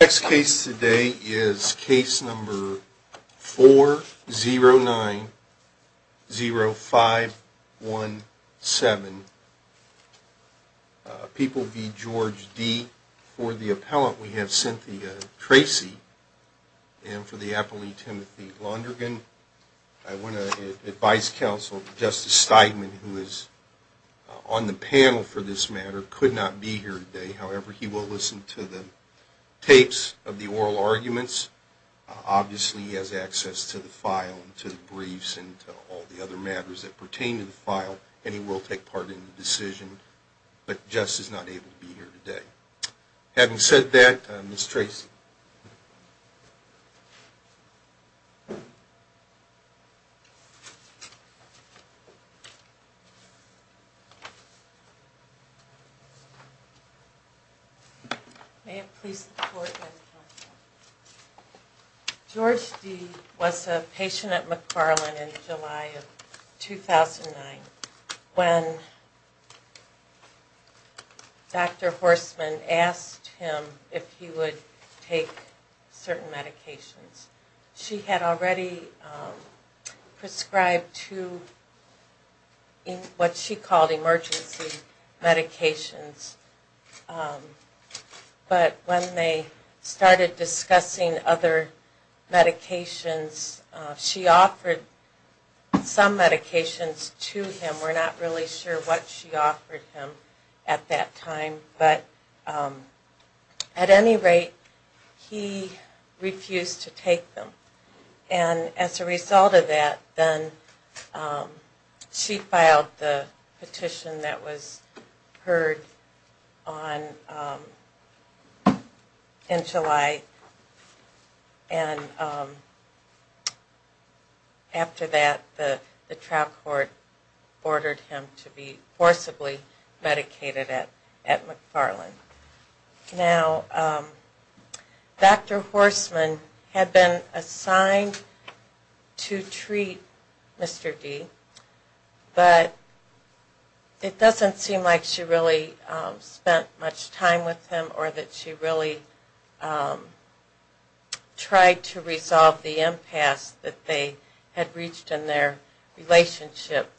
The next case today is case number 4090517, People v. George D. For the appellant, we have Cynthia Tracy. And for the appellee, Timothy Londrigan. I want to advise counsel, Justice Steigman, who is on the panel for this matter, could not be here today. However, he will listen to the tapes of the oral arguments. Obviously, he has access to the file, to the briefs, and to all the other matters that pertain to the file. And he will take part in the decision. But Justice is not able to be here today. Having said that, Ms. Tracy. May it please the court that George D. was a patient at McFarland in July of 2009. When Dr. Horstman asked him if he would take certain medications. She had already prescribed two, what she called emergency medications. But when they started discussing other medications, she offered some medications to him. We're not really sure what she offered him at that time. But at any rate, he refused to take them. And as a result of that, she filed the petition that was heard in July. And after that, the trial court ordered him to be forcibly medicated at McFarland. Now, Dr. Horstman had been assigned to treat Mr. D. But it doesn't seem like she really spent much time with him. Or that she really tried to resolve the impasse that they had reached in their relationship.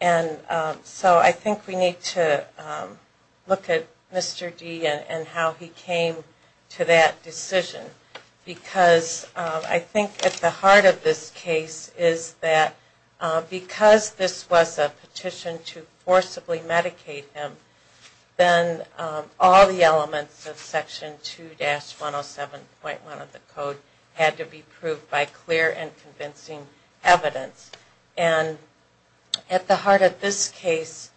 And so I think we need to look at Mr. D. and how he came to that decision. Because I think at the heart of this case is that because this was a petition to forcibly medicate him, then all the elements of Section 2-107.1 of the Code had to be proved by clear and convincing evidence. And at the heart of this case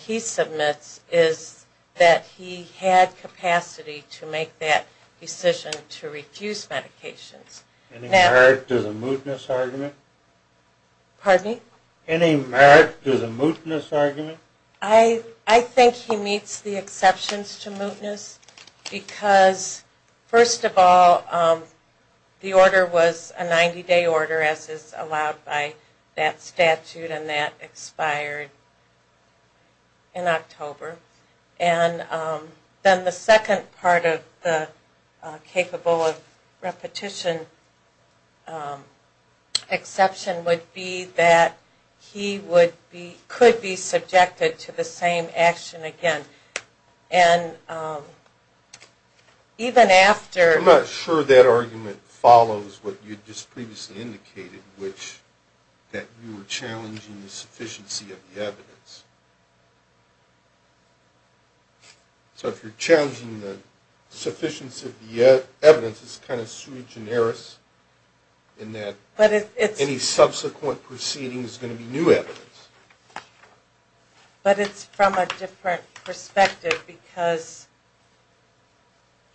he submits is that he had capacity to make that decision to refuse medications. Any merit to the mootness argument? Pardon me? Any merit to the mootness argument? I think he meets the exceptions to mootness. Because first of all, the order was a 90-day order as is allowed by that statute. And that expired in October. And then the second part of the capable of repetition exception would be that he could be subjected to the same action again. I'm not sure that argument follows what you just previously indicated, which that you were challenging the sufficiency of the evidence. So if you're challenging the sufficiency of the evidence, it's kind of sui generis in that any subsequent proceeding is going to be new evidence. But it's from a different perspective because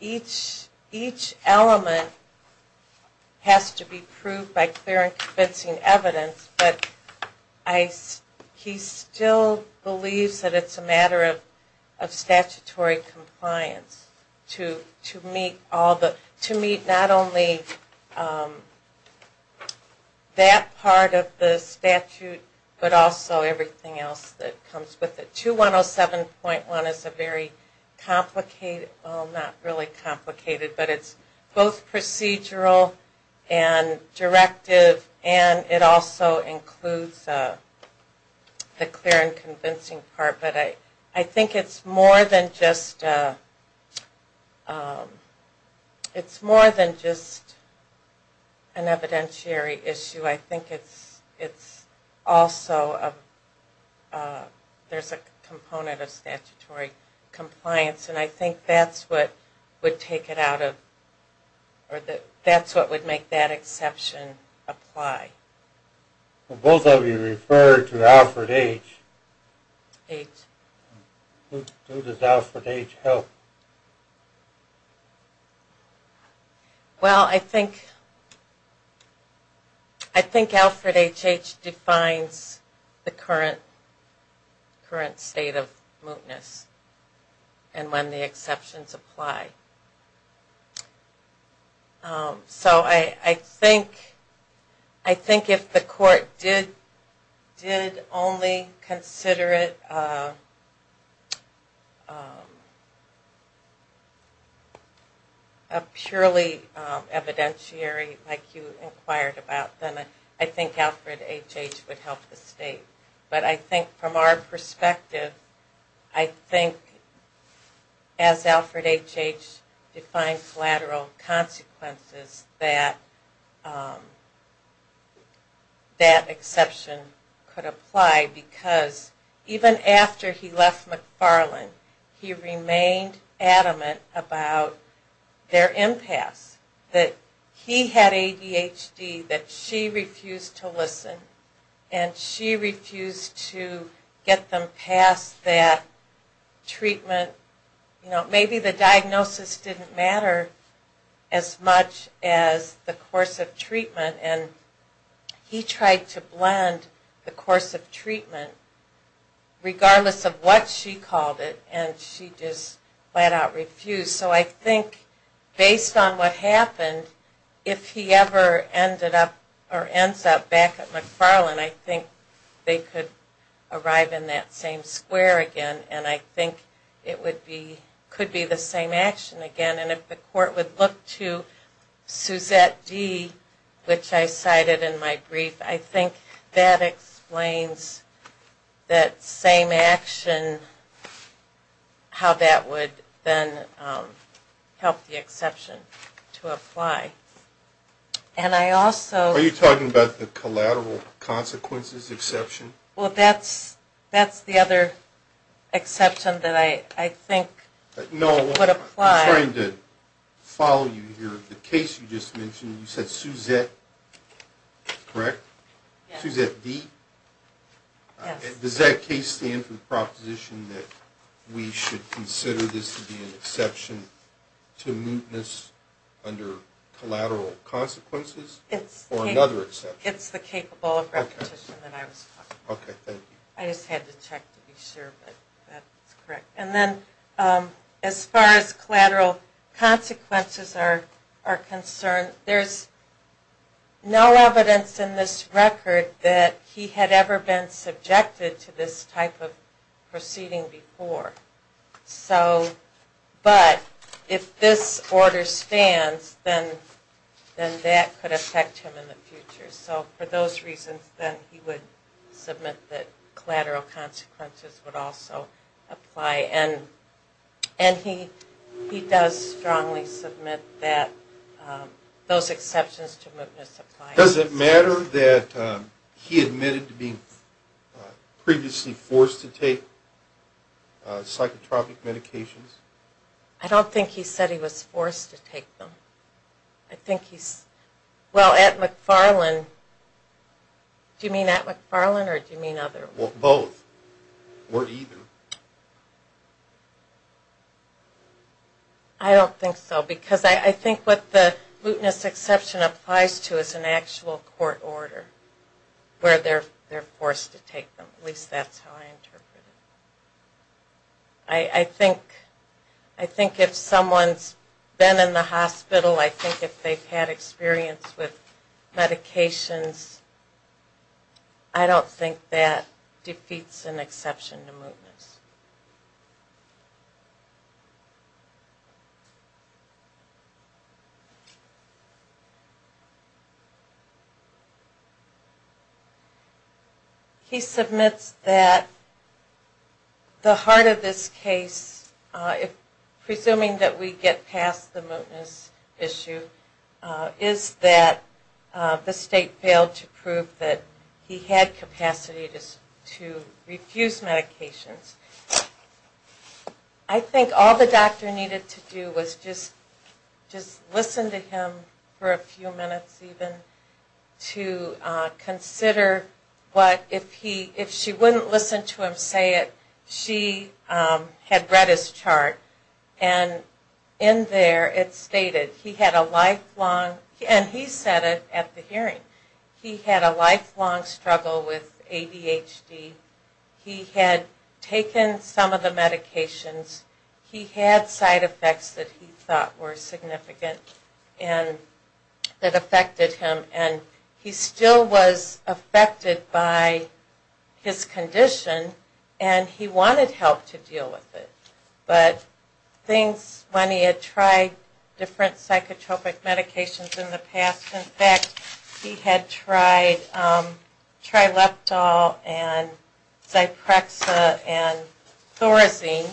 each element has to be proved by clear and convincing evidence. But he still believes that it's a matter of statutory compliance to meet not only that part of the statute, but also everything else that comes with it. 2107.1 is a very complicated, well not really complicated, but it's both procedural and directive and it also includes the clear and convincing part. But I think it's more than just an evidentiary issue. I think it's also, there's a component of statutory compliance and I think that's what would take it out of, that's what would make that exception apply. Both of you referred to Alfred H. H. Who does Alfred H. help? Well, I think, I think Alfred H. H. defines the current state of mootness and when the exceptions apply. So I think if the court did only consider it, if the court did only consider it, I don't think it would apply. If it was a purely evidentiary like you inquired about, then I think Alfred H. H. would help the state. But I think from our perspective, I think as Alfred H. H. defines lateral consequences, that, that exception could apply. Because even after he left McFarland, he remained adamant about their impasse. That he had ADHD, that she refused to listen and she refused to get them past that treatment. You know, maybe the diagnosis didn't matter as much as the course of treatment. And he tried to blend the course of treatment regardless of what she called it and she just flat out refused. So I think based on what happened, if he ever ended up or ends up back at McFarland, I think they could arrive in that same square again and I think it would be, could be the same action again. And if the court would look to Suzette D., which I cited in my brief, I think that explains that same action, how that would then help the exception to apply. Are you talking about the collateral consequences exception? Well, that's, that's the other exception that I, I think would apply. No, I'm trying to follow you here. The case you just mentioned, you said Suzette, correct? Yes. Suzette D.? Yes. Does that case stand for the proposition that we should consider this to be an exception to mootness under collateral consequences? It's the capable of repetition that I was talking about. Okay, thank you. I just had to check to be sure, but that's correct. And then as far as collateral consequences are concerned, there's no evidence in this record that he had ever been subjected to this type of proceeding before. So, but, if this order stands, then, then that could affect him in the future. So for those reasons, then he would submit that collateral consequences would also apply. And, and he, he does strongly submit that those exceptions to mootness apply. Does it matter that he admitted to being previously forced to take subpoenas? Or psychotropic medications? I don't think he said he was forced to take them. I think he's, well, at McFarland, do you mean at McFarland or do you mean other? Well, both. Or either. I don't think so, because I, I think what the mootness exception applies to is an actual court order where they're, they're forced to take them. At least that's how I interpret it. I, I think, I think if someone's been in the hospital, I think if they've had experience with medications, I don't think that defeats an exception to mootness. He submits that the heart of this case, if, presuming that we get past the mootness issue, is that the state failed to prove that he had capacity to, to refuse medications. I don't think all the doctor needed to do was just, just listen to him for a few minutes, even, to consider what, if he, if she wouldn't listen to him say it, she had read his chart. And in there it stated he had a lifelong, and he said it at the hearing, he had a lifelong struggle with ADHD. He had taken some of the medications, he had side effects that he thought were significant and that affected him and he still was affected by his condition. And he wanted help to deal with it. But things, when he had tried different psychotropic medications in the past, in fact he had tried Trileptal and Zyprexa and Thorazine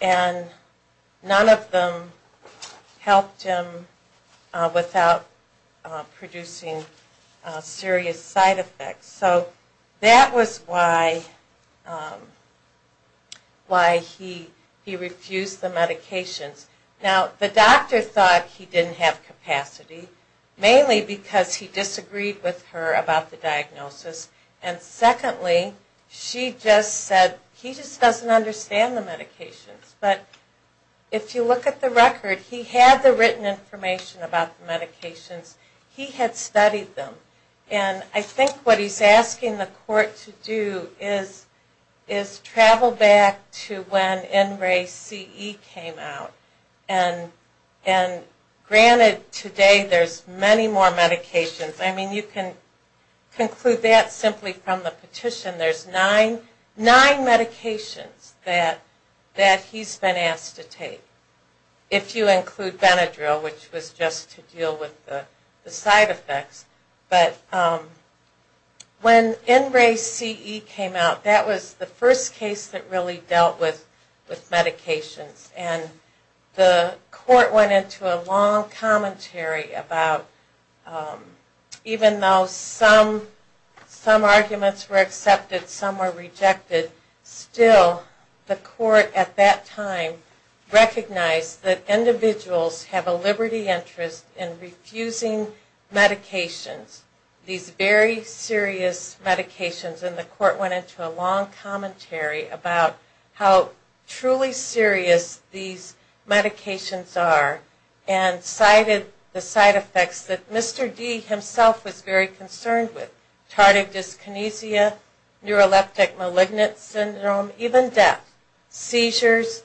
and none of them helped him without producing serious side effects. So that was why he refused the medications. Now the doctor thought he didn't have capacity, mainly because he disagreed with her about the diagnosis. And secondly, she just said he just doesn't understand the medications. But if you look at the record, he had the written information about the medications, he had studied them. And I think what he's asking the court to do is travel back to when NRECE came out. And granted today there's many more medications, I mean you can conclude that simply from the petition. There's nine medications that he's been asked to take, if you include Benadryl which was just to deal with the side effects. But when NRECE came out, that was the first case that really dealt with medications. And the court went into a long commentary about, even though some arguments were accepted, some were rejected, still the court at that time recognized that individuals have a liberty interest in refusing medications. These very serious medications, and the court went into a long commentary about how truly serious these medications are. And cited the side effects that Mr. D himself was very concerned with, tardive dyskinesia, neuroleptic malignant syndrome, even death. Seizures,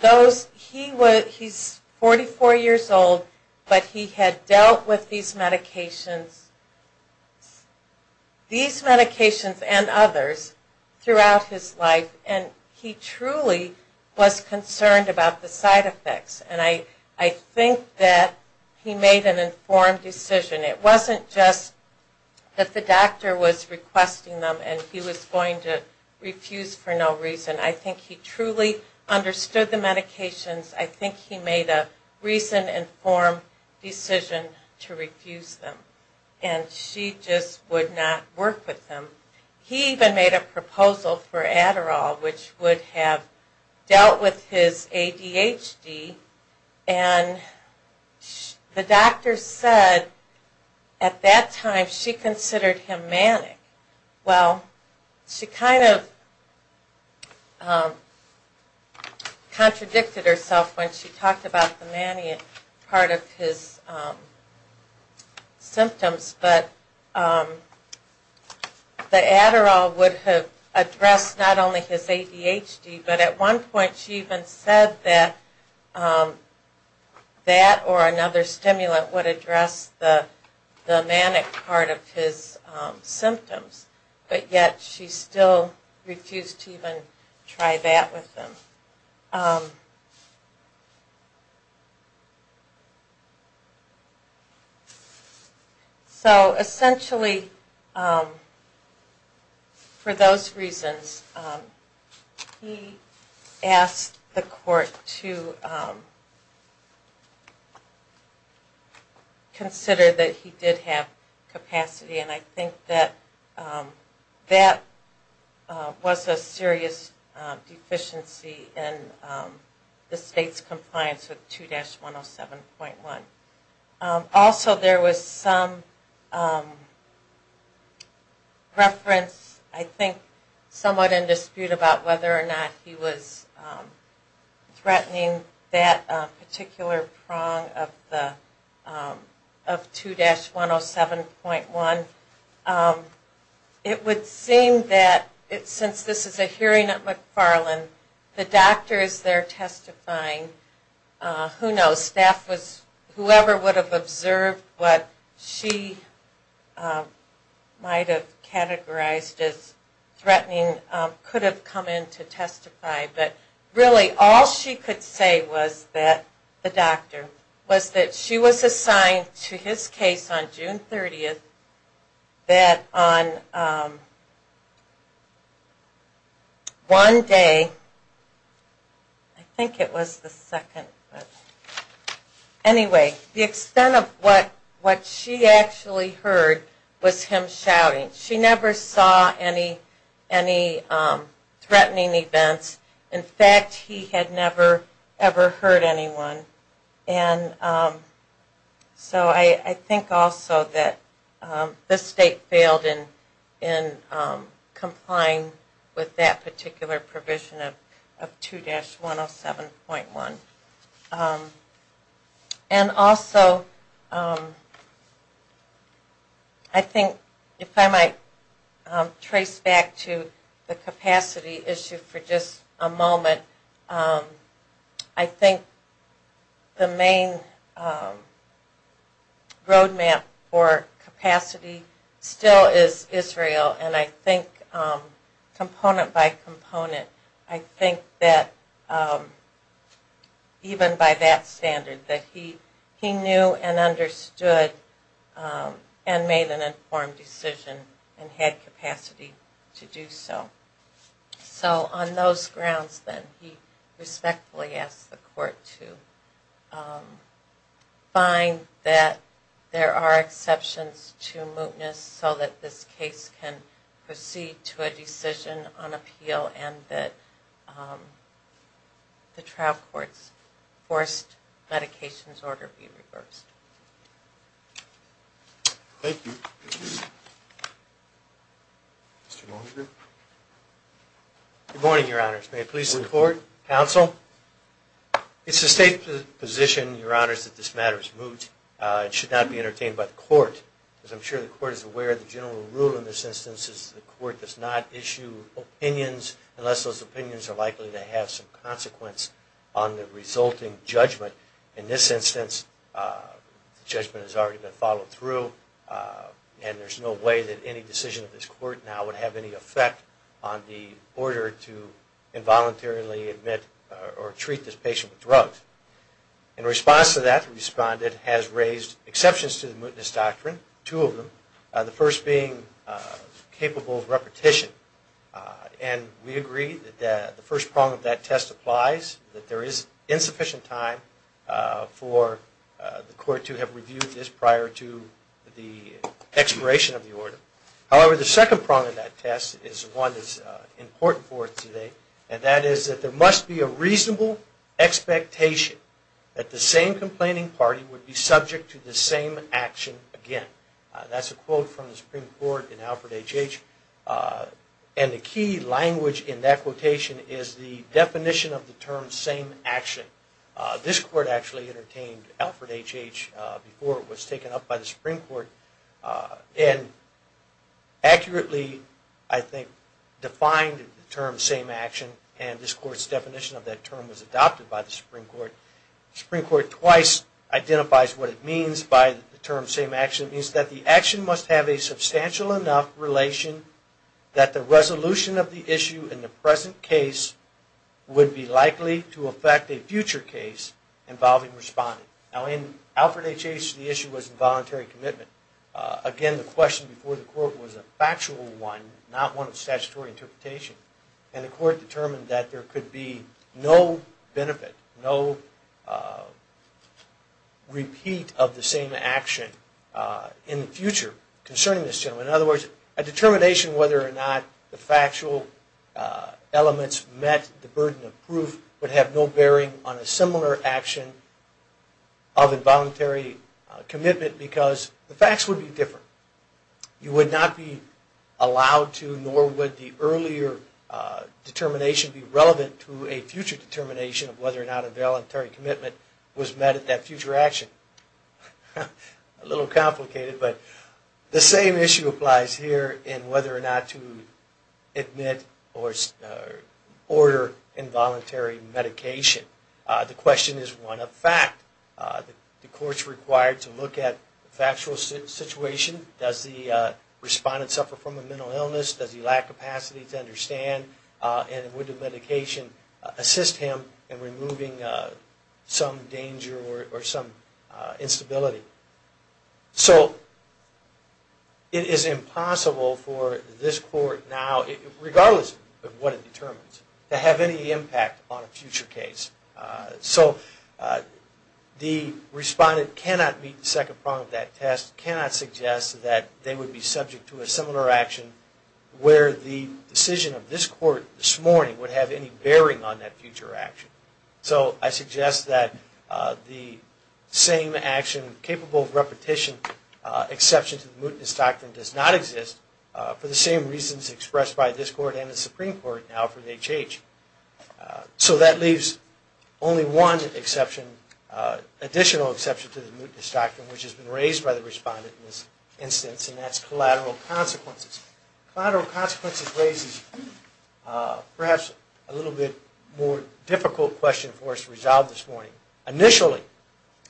those, he was, he's 44 years old, but he had dealt with these medications. These medications and others throughout his life, and he truly was concerned about the side effects. And I think that he made an informed decision. It wasn't just that the doctor was requesting them and he was going to refuse for no reason. I think he truly understood the medications, I think he made a reasoned, informed decision to refuse them. And she just would not work with him. He even made a proposal for Adderall, which would have dealt with his ADHD, and the doctor said at that time she considered him manic. Well, she kind of contradicted herself when she talked about the manic part of his symptoms. But the Adderall would have addressed not only his ADHD, but at one point she even said that that or another stimulant would address the manic part of his symptoms. But yet she still refused to even try that with him. So essentially, for those reasons, he asked the court to consider that he did have capacity, and I think that that was a serious deficiency. And the state's compliance with 2-107.1. Also, there was some reference, I think, somewhat in dispute about whether or not he was threatening that particular prong of 2-107.1. It would seem that since this is a hearing at McFarland, the doctor is there testifying, who knows, staff was, whoever would have observed what she might have categorized as threatening, could have come in to testify. But really, all she could say was that, the doctor, was that she was assigned to his case on June 30th. And that on one day, I think it was the second, anyway, the extent of what she actually heard was him shouting. She never saw any threatening events. In fact, he had never, ever heard anyone. And so I think also that the state failed in complying with that particular provision of 2-107.1. And also, I think, if I might trace back to the capacity issue for just a moment, I think that the state's compliance with 2-107.1 was not good. The main roadmap for capacity still is Israel, and I think component by component, I think that even by that standard, that he knew and understood and made an informed decision and had capacity to do so. So on those grounds then, he respectfully asked the court to find that there are exceptions to mootness so that this case can proceed to a decision on appeal and that the trial court's forced medications order be reversed. Thank you. Good morning, Your Honors. May I please report? Counsel? It's the state's position, Your Honors, that this matter is moot. It should not be entertained by the court, because I'm sure the court is aware that the general rule in this instance is that the court does not issue opinions unless those opinions are likely to have some consequence on the resulting judgment. In this instance, the judgment has already been followed through, and there's no way that any decision of this court now would have any effect on the order to involuntarily admit or treat this patient with drugs. In response to that, the respondent has raised exceptions to the mootness doctrine, two of them, the first being capable of repetition. And we agree that the first prong of that test applies, that there is insufficient time for the court to have reviewed this prior to the expiration of the order. However, the second prong of that test is one that's important for us today, and that is that there must be a reasonable expectation that the same complaining party would be subject to the same action again. That's a quote from the Supreme Court in Alfred H.H., and the key language in that quotation is the definition of the term, same action. This court actually entertained Alfred H.H. before it was taken up by the Supreme Court, and accurately, I think, defined the term, same action, and this court's definition of that term was adopted by the Supreme Court. The Supreme Court twice identifies what it means by the term, same action. It means that the action must have a substantial enough relation that the resolution of the issue in the present case would be likely to affect a future case involving responding. Now, in Alfred H.H., the issue was involuntary commitment. Again, the question before the court was a factual one, not one of statutory interpretation. And the court determined that there could be no benefit, no repeat of the same action in the future concerning this gentleman. In other words, a determination whether or not the factual elements met the burden of proof would have no bearing on a similar action of involuntary commitment, because the facts would be different. You would not be allowed to, nor would the earlier determination be relevant to a future determination of whether or not a voluntary commitment was met at that future action. A little complicated, but the same issue applies here in whether or not to admit or order involuntary medication. The question is one of fact. The court is required to look at the factual situation. Does the respondent suffer from a mental illness? Does he lack capacity to understand? And would the medication assist him in removing some danger or some instability? So it is impossible for this court now, regardless of what it determines, to have any impact on a future case. So the respondent cannot meet the second prong of that test, cannot suggest that they would be subject to a similar action where the decision of this court this morning would have any bearing on that future action. So I suggest that the same action capable of repetition, exception to the mootness doctrine, does not exist for the same reasons expressed by this court and the Supreme Court now for the H.H. So that leaves only one exception, additional exception to the mootness doctrine, which has been raised by the respondent in this instance, and that's collateral consequences. Collateral consequences raises perhaps a little bit more difficult question for us to resolve this morning. Initially,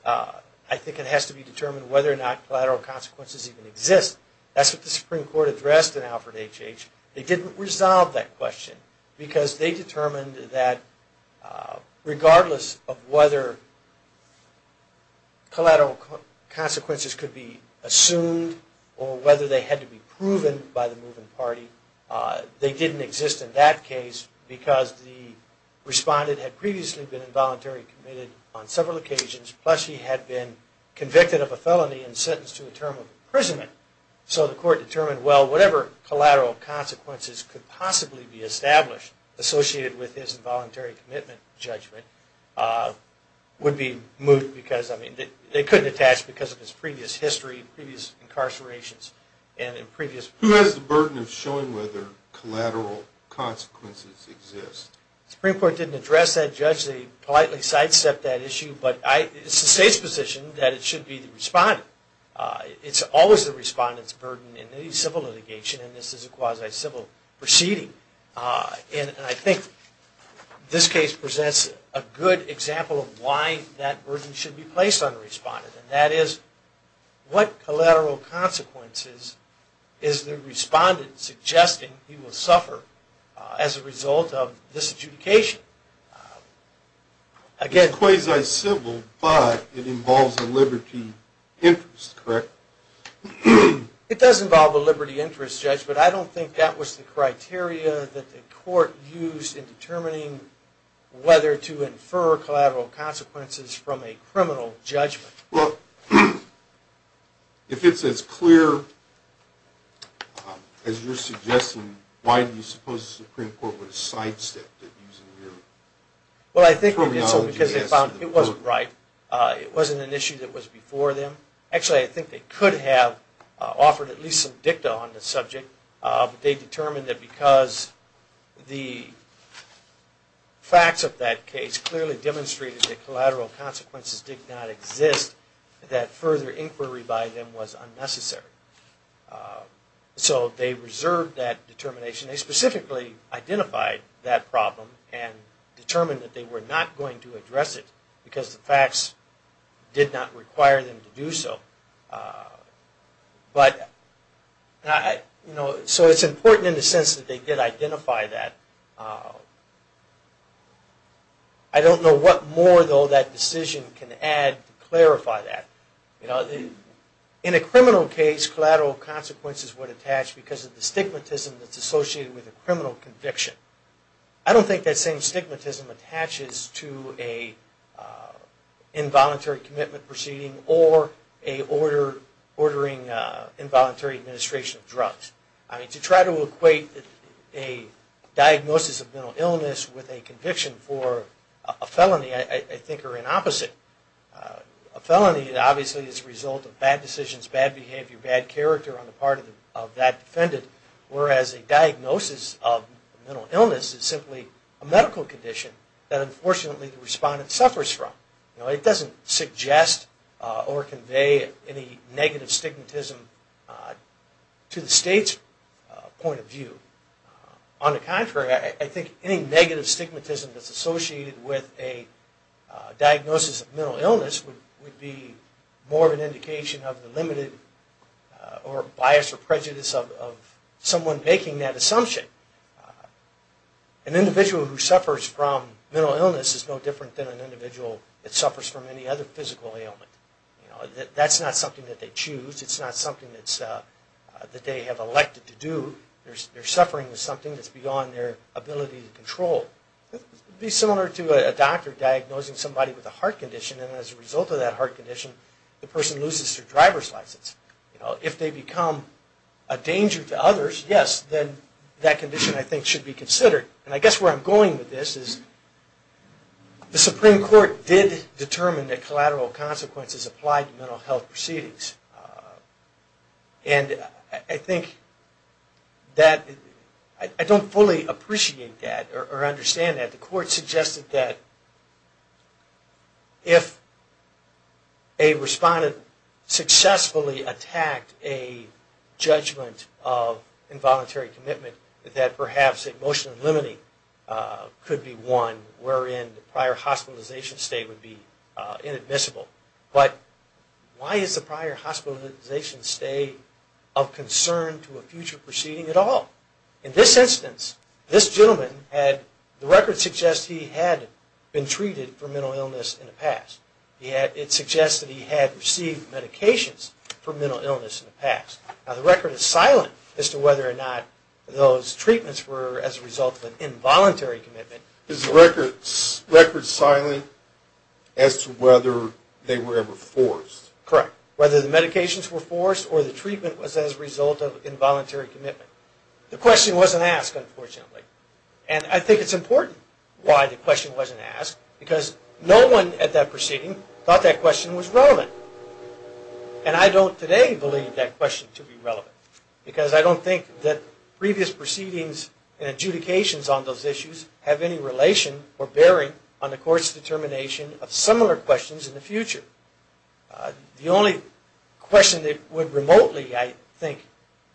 I think it has to be determined whether or not collateral consequences even exist. That's what the Supreme Court addressed in Alfred H.H. They didn't resolve that question because they determined that collateral consequences exist. They determined that regardless of whether collateral consequences could be assumed or whether they had to be proven by the moving party, they didn't exist in that case because the respondent had previously been involuntarily committed on several occasions, plus he had been convicted of a felony and sentenced to a term of imprisonment. So the court determined, well, whatever collateral consequences could possibly be established associated with his involuntary commitment judgment would be moot because, I mean, they couldn't attach because of his previous history, previous incarcerations, and previous... Who has the burden of showing whether collateral consequences exist? The Supreme Court didn't address that, Judge. They politely sidestepped that issue, but it's the State's position that it should be the respondent. It's always the respondent's burden in any civil litigation, and this is a quasi-civil proceeding. And I think this case presents a good example of why that burden should be placed on the respondent, and that is, what collateral consequences is the respondent suggesting he will suffer as a result of this adjudication? It's quasi-civil, but it involves a liberty interest, correct? It does involve a liberty interest, Judge, but I don't think that was the criteria that the court used in determining whether to infer collateral consequences from a criminal judgment. Well, if it's as clear as you're suggesting, why do you suppose the Supreme Court would have sidestepped it using your reasoning? Well, I think they did so because they found it wasn't right. It wasn't an issue that was before them. Actually, I think they could have offered at least some dicta on the subject, but they determined that because the facts of that case clearly demonstrated that collateral consequences did not exist, that further inquiry by them was unnecessary. So they reserved that determination. They specifically identified that problem and determined that they were not going to address it because the facts did not require them to do so. So it's important in the sense that they did identify that. I don't know what more, though, that decision can add to clarify that. In a criminal case, collateral consequences would attach because of the stigmatism that's associated with a criminal conviction. I don't think that same stigmatism attaches to an involuntary commitment proceeding or ordering involuntary administration of drugs. I mean, to try to equate a diagnosis of mental illness with a conviction for a felony I think are an opposite. A felony, obviously, is a result of bad decisions, bad behavior, bad character on the part of that defendant. Whereas a diagnosis of mental illness is simply a medical condition that unfortunately the respondent suffers from. It doesn't suggest or convey any negative stigmatism to the state's point of view. On the contrary, I think any negative stigmatism that's associated with a diagnosis of mental illness is a result of a medical condition. A diagnosis of mental illness would be more of an indication of the limited bias or prejudice of someone making that assumption. An individual who suffers from mental illness is no different than an individual that suffers from any other physical ailment. That's not something that they choose. It's not something that they have elected to do. They're suffering with something that's beyond their ability to control. It would be similar to a doctor diagnosing somebody with a heart condition and as a result of that heart condition the person loses their driver's license. If they become a danger to others, yes, then that condition I think should be considered. And I guess where I'm going with this is the Supreme Court did determine that collateral consequences apply to mental health proceedings. And I think that I don't fully appreciate that or understand that. The court suggested that if a respondent successfully attacked a judgment of involuntary commitment, that perhaps emotional inlimity could be one wherein the prior hospitalization stay would be inadmissible. But why is the prior hospitalization stay of concern to a future proceeding at all? In this instance, this gentleman, the record suggests he had been treated for mental illness in the past. It suggests that he had received medications for mental illness in the past. Now the record is silent as to whether or not those treatments were as a result of an involuntary commitment. Is the record silent as to whether they were ever forced? Correct. Whether the medications were forced or the treatment was as a result of involuntary commitment. The question wasn't asked, unfortunately. And I think it's important why the question wasn't asked, because no one at that proceeding thought that question was relevant. And I don't today believe that question to be relevant, because I don't think that previous proceedings and adjudications on those issues have any relation or bearing on the court's determination of similar questions in the future. The only question that would remotely, I think,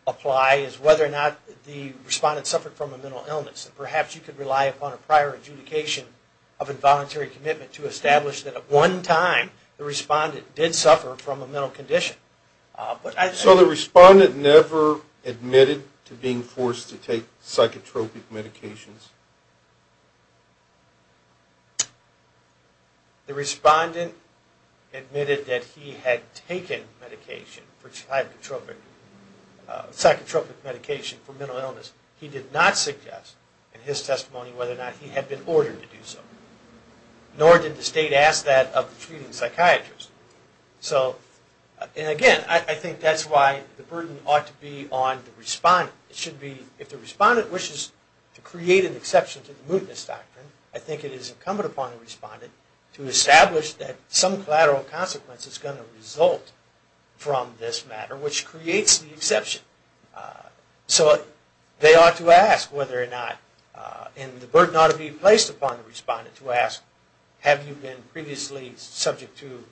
apply is whether or not the respondent suffered from a mental illness. And perhaps you could rely upon a prior adjudication of involuntary commitment to establish that at one time the respondent did suffer from a mental condition. So the respondent never admitted to being forced to take psychotropic medications? The respondent admitted that he had taken psychotropic medication for mental illness. He did not suggest in his testimony whether or not he had been ordered to do so. Nor did the State ask that of the treating psychiatrist. And again, I think that's why the burden ought to be on the respondent. If the respondent wishes to create an exception to the mootness doctrine, I think it is incumbent upon the respondent to establish that some collateral consequence is going to result from this matter, which creates the exception. So they ought to ask whether or not, and the burden ought to be placed upon the respondent to ask, have you been previously subject to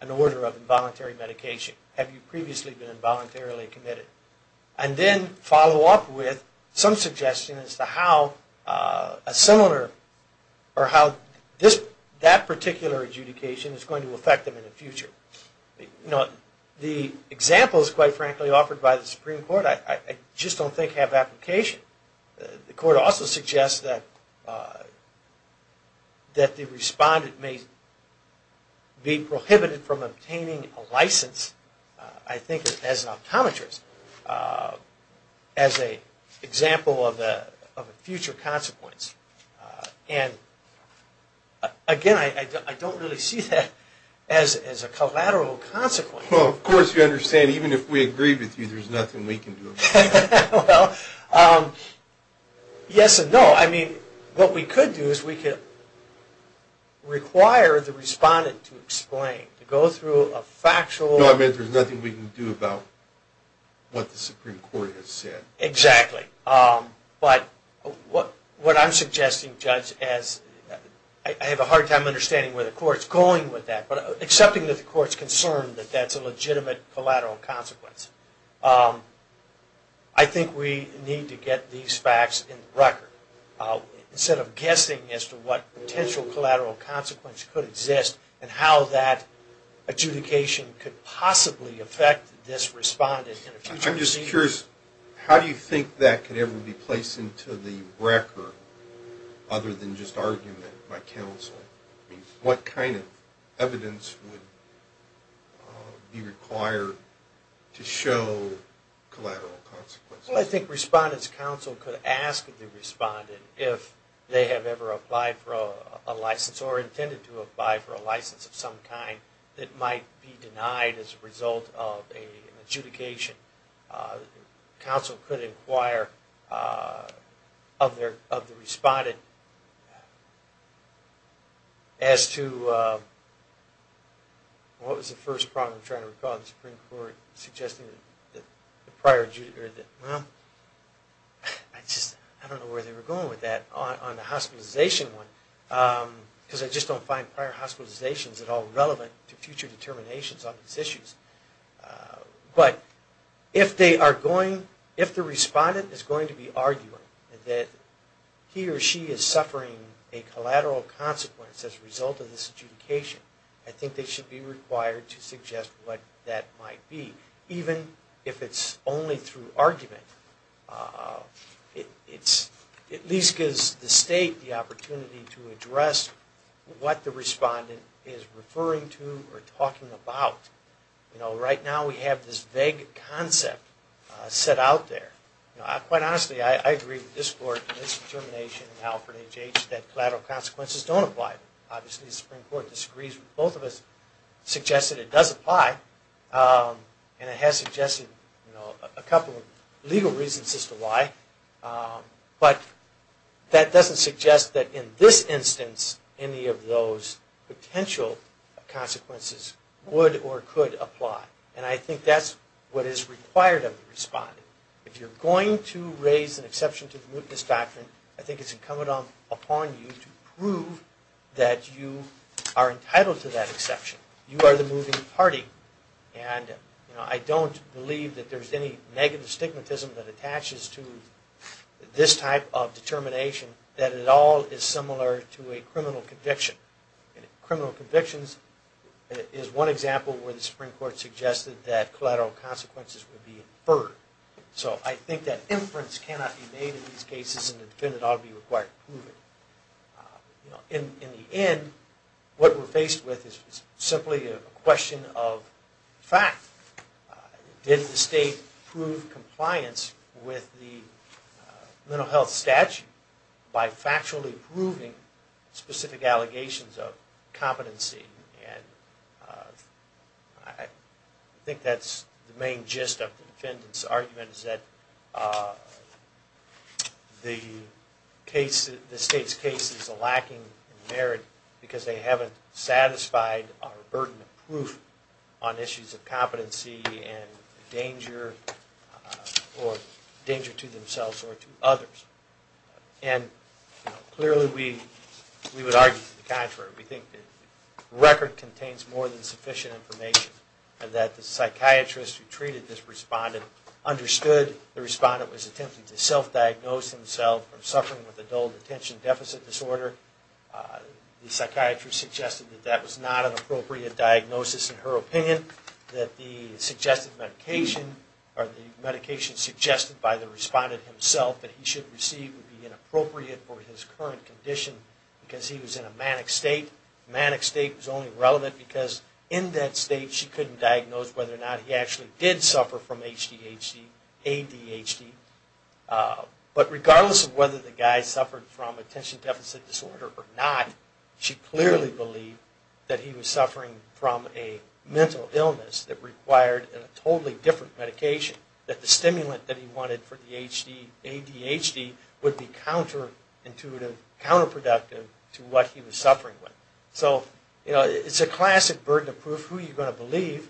an order of involuntary medication? Have you previously been involuntarily committed? And then follow up with some suggestion as to how a similar, or how that particular adjudication is going to affect them in the future. The examples, quite frankly, offered by the Supreme Court I just don't think have application. The Court also suggests that the respondent may be prohibited from obtaining a license I think as an optometrist, as an example of a future consequence. And again, I don't really see that as a collateral consequence. Well, of course you understand, even if we agree with you, there's nothing we can do about it. Well, yes and no. I mean, what we could do is we could require the respondent to explain, to go through a factual... No, I mean, there's nothing we can do about what the Supreme Court has said. Exactly. But what I'm suggesting, Judge, I have a hard time understanding where the Court's going with that, but accepting that the Court's concerned that that's a legitimate collateral consequence. I think we need to get these facts in the record instead of guessing as to what potential collateral consequence could exist and how that adjudication could possibly affect this respondent in the future. I'm just curious, how do you think that could ever be placed into the record other than just argument by counsel? I mean, what kind of evidence would be required to show collateral consequences? Well, I think Respondent's Counsel could ask the respondent if they have ever applied for a license or intended to apply for a license of some kind that might be denied as a result of an adjudication. Counsel could inquire of the respondent as to... What was the first problem I'm trying to recall in the Supreme Court? Well, I just don't know where they were going with that on the hospitalization one, because I just don't find prior hospitalizations at all relevant to future determinations on these issues. But if the respondent is going to be arguing that he or she is suffering a collateral consequence as a result of this adjudication, I think they should be required to suggest what that might be, even if it's only through argument. It at least gives the State the opportunity to address what the respondent is referring to or talking about. You know, right now we have this vague concept set out there. Quite honestly, I agree with this Court and this determination in Alfred H. H. that collateral consequences don't apply. Obviously, the Supreme Court disagrees with both of us. It suggests that it does apply, and it has suggested a couple of legal reasons as to why. But that doesn't suggest that in this instance any of those potential consequences would or could apply. And I think that's what is required of the respondent. If you're going to raise an exception to the mootness doctrine, I think it's incumbent upon you to prove that you are entitled to that exception. You are the mooting party, and I don't believe that there's any negative stigmatism that attaches to this type of determination, that it all is similar to a criminal conviction. Criminal convictions is one example where the Supreme Court suggested that collateral consequences would be inferred. So I think that inference cannot be made in these cases, and the defendant ought to be required to prove it. In the end, what we're faced with is simply a question of fact. Did the State prove compliance with the mental health statute by factually proving specific allegations of competency? And I think that's the main gist of the defendant's argument, is that the State's case is lacking in merit because they haven't satisfied our burden of proof on issues of competency and danger to themselves or to others. And clearly we would argue the contrary. We think the record contains more than sufficient information that the psychiatrist who treated this respondent understood the respondent was attempting to self-diagnose himself from suffering with adult attention deficit disorder. The psychiatrist suggested that that was not an appropriate diagnosis in her opinion, that the medication suggested by the respondent himself that he should receive would be inappropriate for his current condition because he was in a manic state. Manic state was only relevant because in that state she couldn't diagnose whether or not he actually did suffer from ADHD. But regardless of whether the guy suffered from attention deficit disorder or not, she clearly believed that he was suffering from a mental illness that required a totally different medication, that the stimulant that he wanted for the ADHD would be counterintuitive, counterproductive to what he was suffering with. So, you know, it's a classic burden of proof. Who are you going to believe?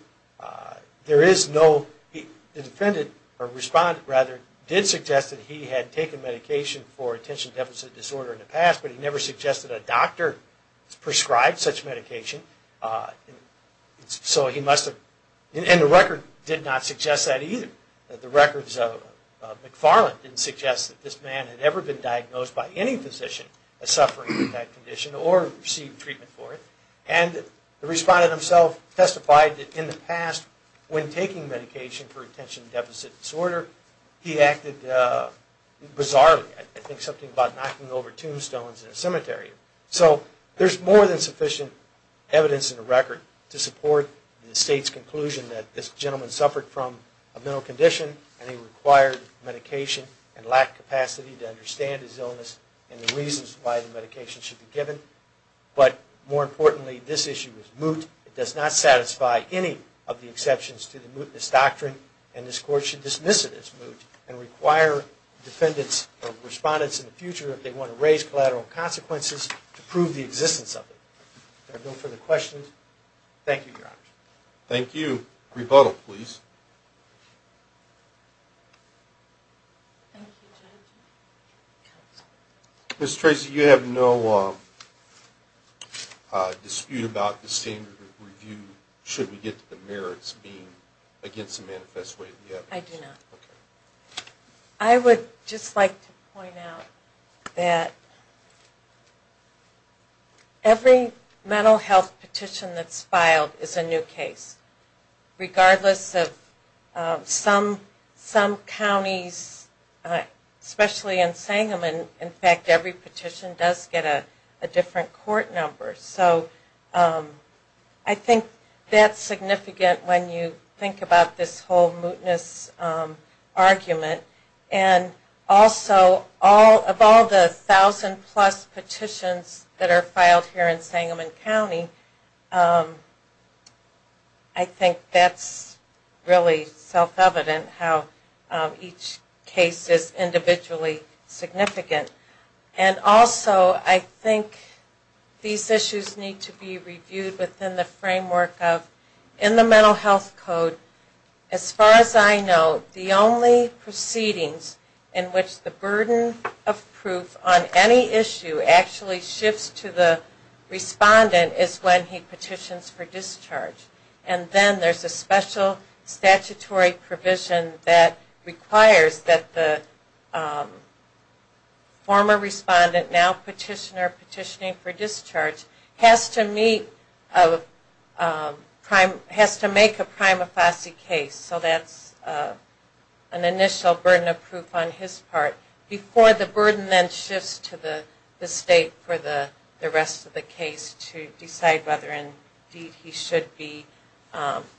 The defendant, or respondent rather, did suggest that he had taken medication for attention deficit disorder in the past, but he never suggested a doctor prescribed such medication. And the record did not suggest that either. The records of McFarland didn't suggest that this man had ever been diagnosed by any physician as suffering with that condition or received treatment for it. And the respondent himself testified that in the past when taking medication for attention deficit disorder, he acted bizarrely. I think something about knocking over tombstones in a cemetery. So there's more than sufficient evidence in the record to support the state's conclusion that this gentleman suffered from a mental condition and he required medication and lacked capacity to understand his illness and the reasons why the medication should be given. But more importantly, this issue is moot. It does not satisfy any of the exceptions to the mootness doctrine, and this Court should dismiss it as moot and require defendants or respondents in the future, if they want to raise collateral consequences, to prove the existence of it. If there are no further questions, thank you, Your Honor. Thank you. Rebuttal, please. Ms. Tracy, you have no dispute about the standard review, should we get to the merits being against the manifest way of the evidence? I do not. I would just like to point out that every mental health petition that's filed is a new case, regardless of some counties, especially in Sangamon, in fact, every petition does get a different court number. So I think that's significant when you think about this whole mootness argument, and also of all the thousand plus petitions that are filed here in Sangamon County, I think that's really self-evident how each case is individually significant. And also, I think these issues need to be reviewed within the framework of, in the Mental Health Code, as far as I know, the only proceedings in which the burden of proof on any issue actually shifts to the respondent is when he petitions for discharge. And then there's a special statutory provision that requires that the former respondent, now petitioner petitioning for discharge, has to make a prima facie case, so that's an initial burden of proof on his part, before the burden then shifts to the state for the rest of the case to decide whether indeed he should be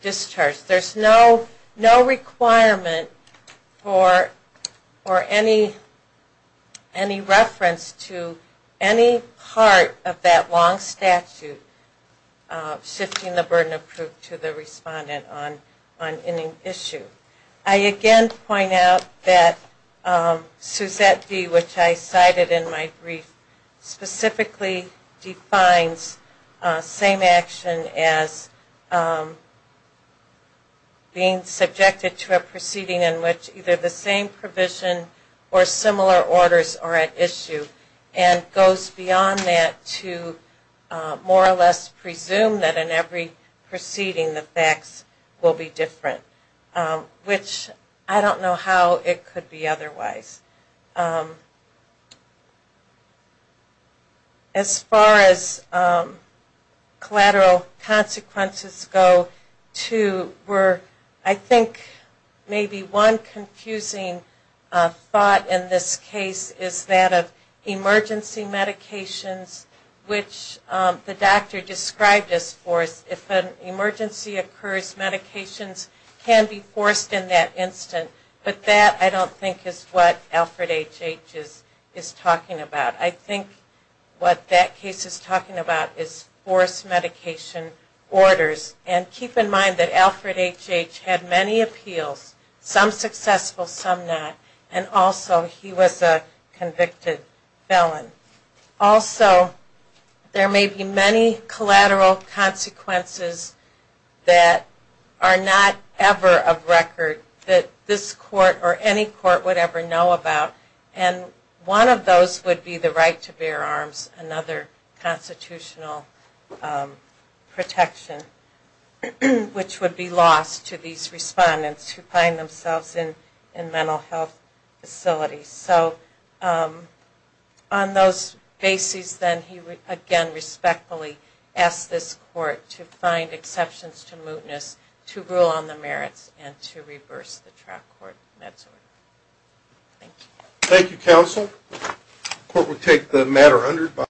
discharged. There's no requirement for any reference to any part of that long statute shifting the burden of proof to the respondent on any issue. I again point out that Suzette D., which I cited in my brief, specifically defines same action as being subjected to a proceeding in which either the same provision or similar orders are at issue, and goes beyond that to more or less presume that in every proceeding the facts will be different, which I don't know how it could be otherwise. As far as collateral consequences go to where I think maybe one confusing thought in this case is that of emergency medications, which the patient can be forced in that instant, but that I don't think is what Alfred H. H. is talking about. I think what that case is talking about is forced medication orders, and keep in mind that Alfred H. H. had many appeals, some successful, some not, and also he was a convicted felon. Also, there may be many collateral consequences that are not ever of record that this court or any court would ever know about, and one of those would be the right to bear arms, another constitutional protection, which would be lost to these respondents who find themselves in mental health facilities. On those bases, then, he again respectfully asked this court to find exceptions to mootness, to rule on the merits, and to reverse the track court meds order. Thank you.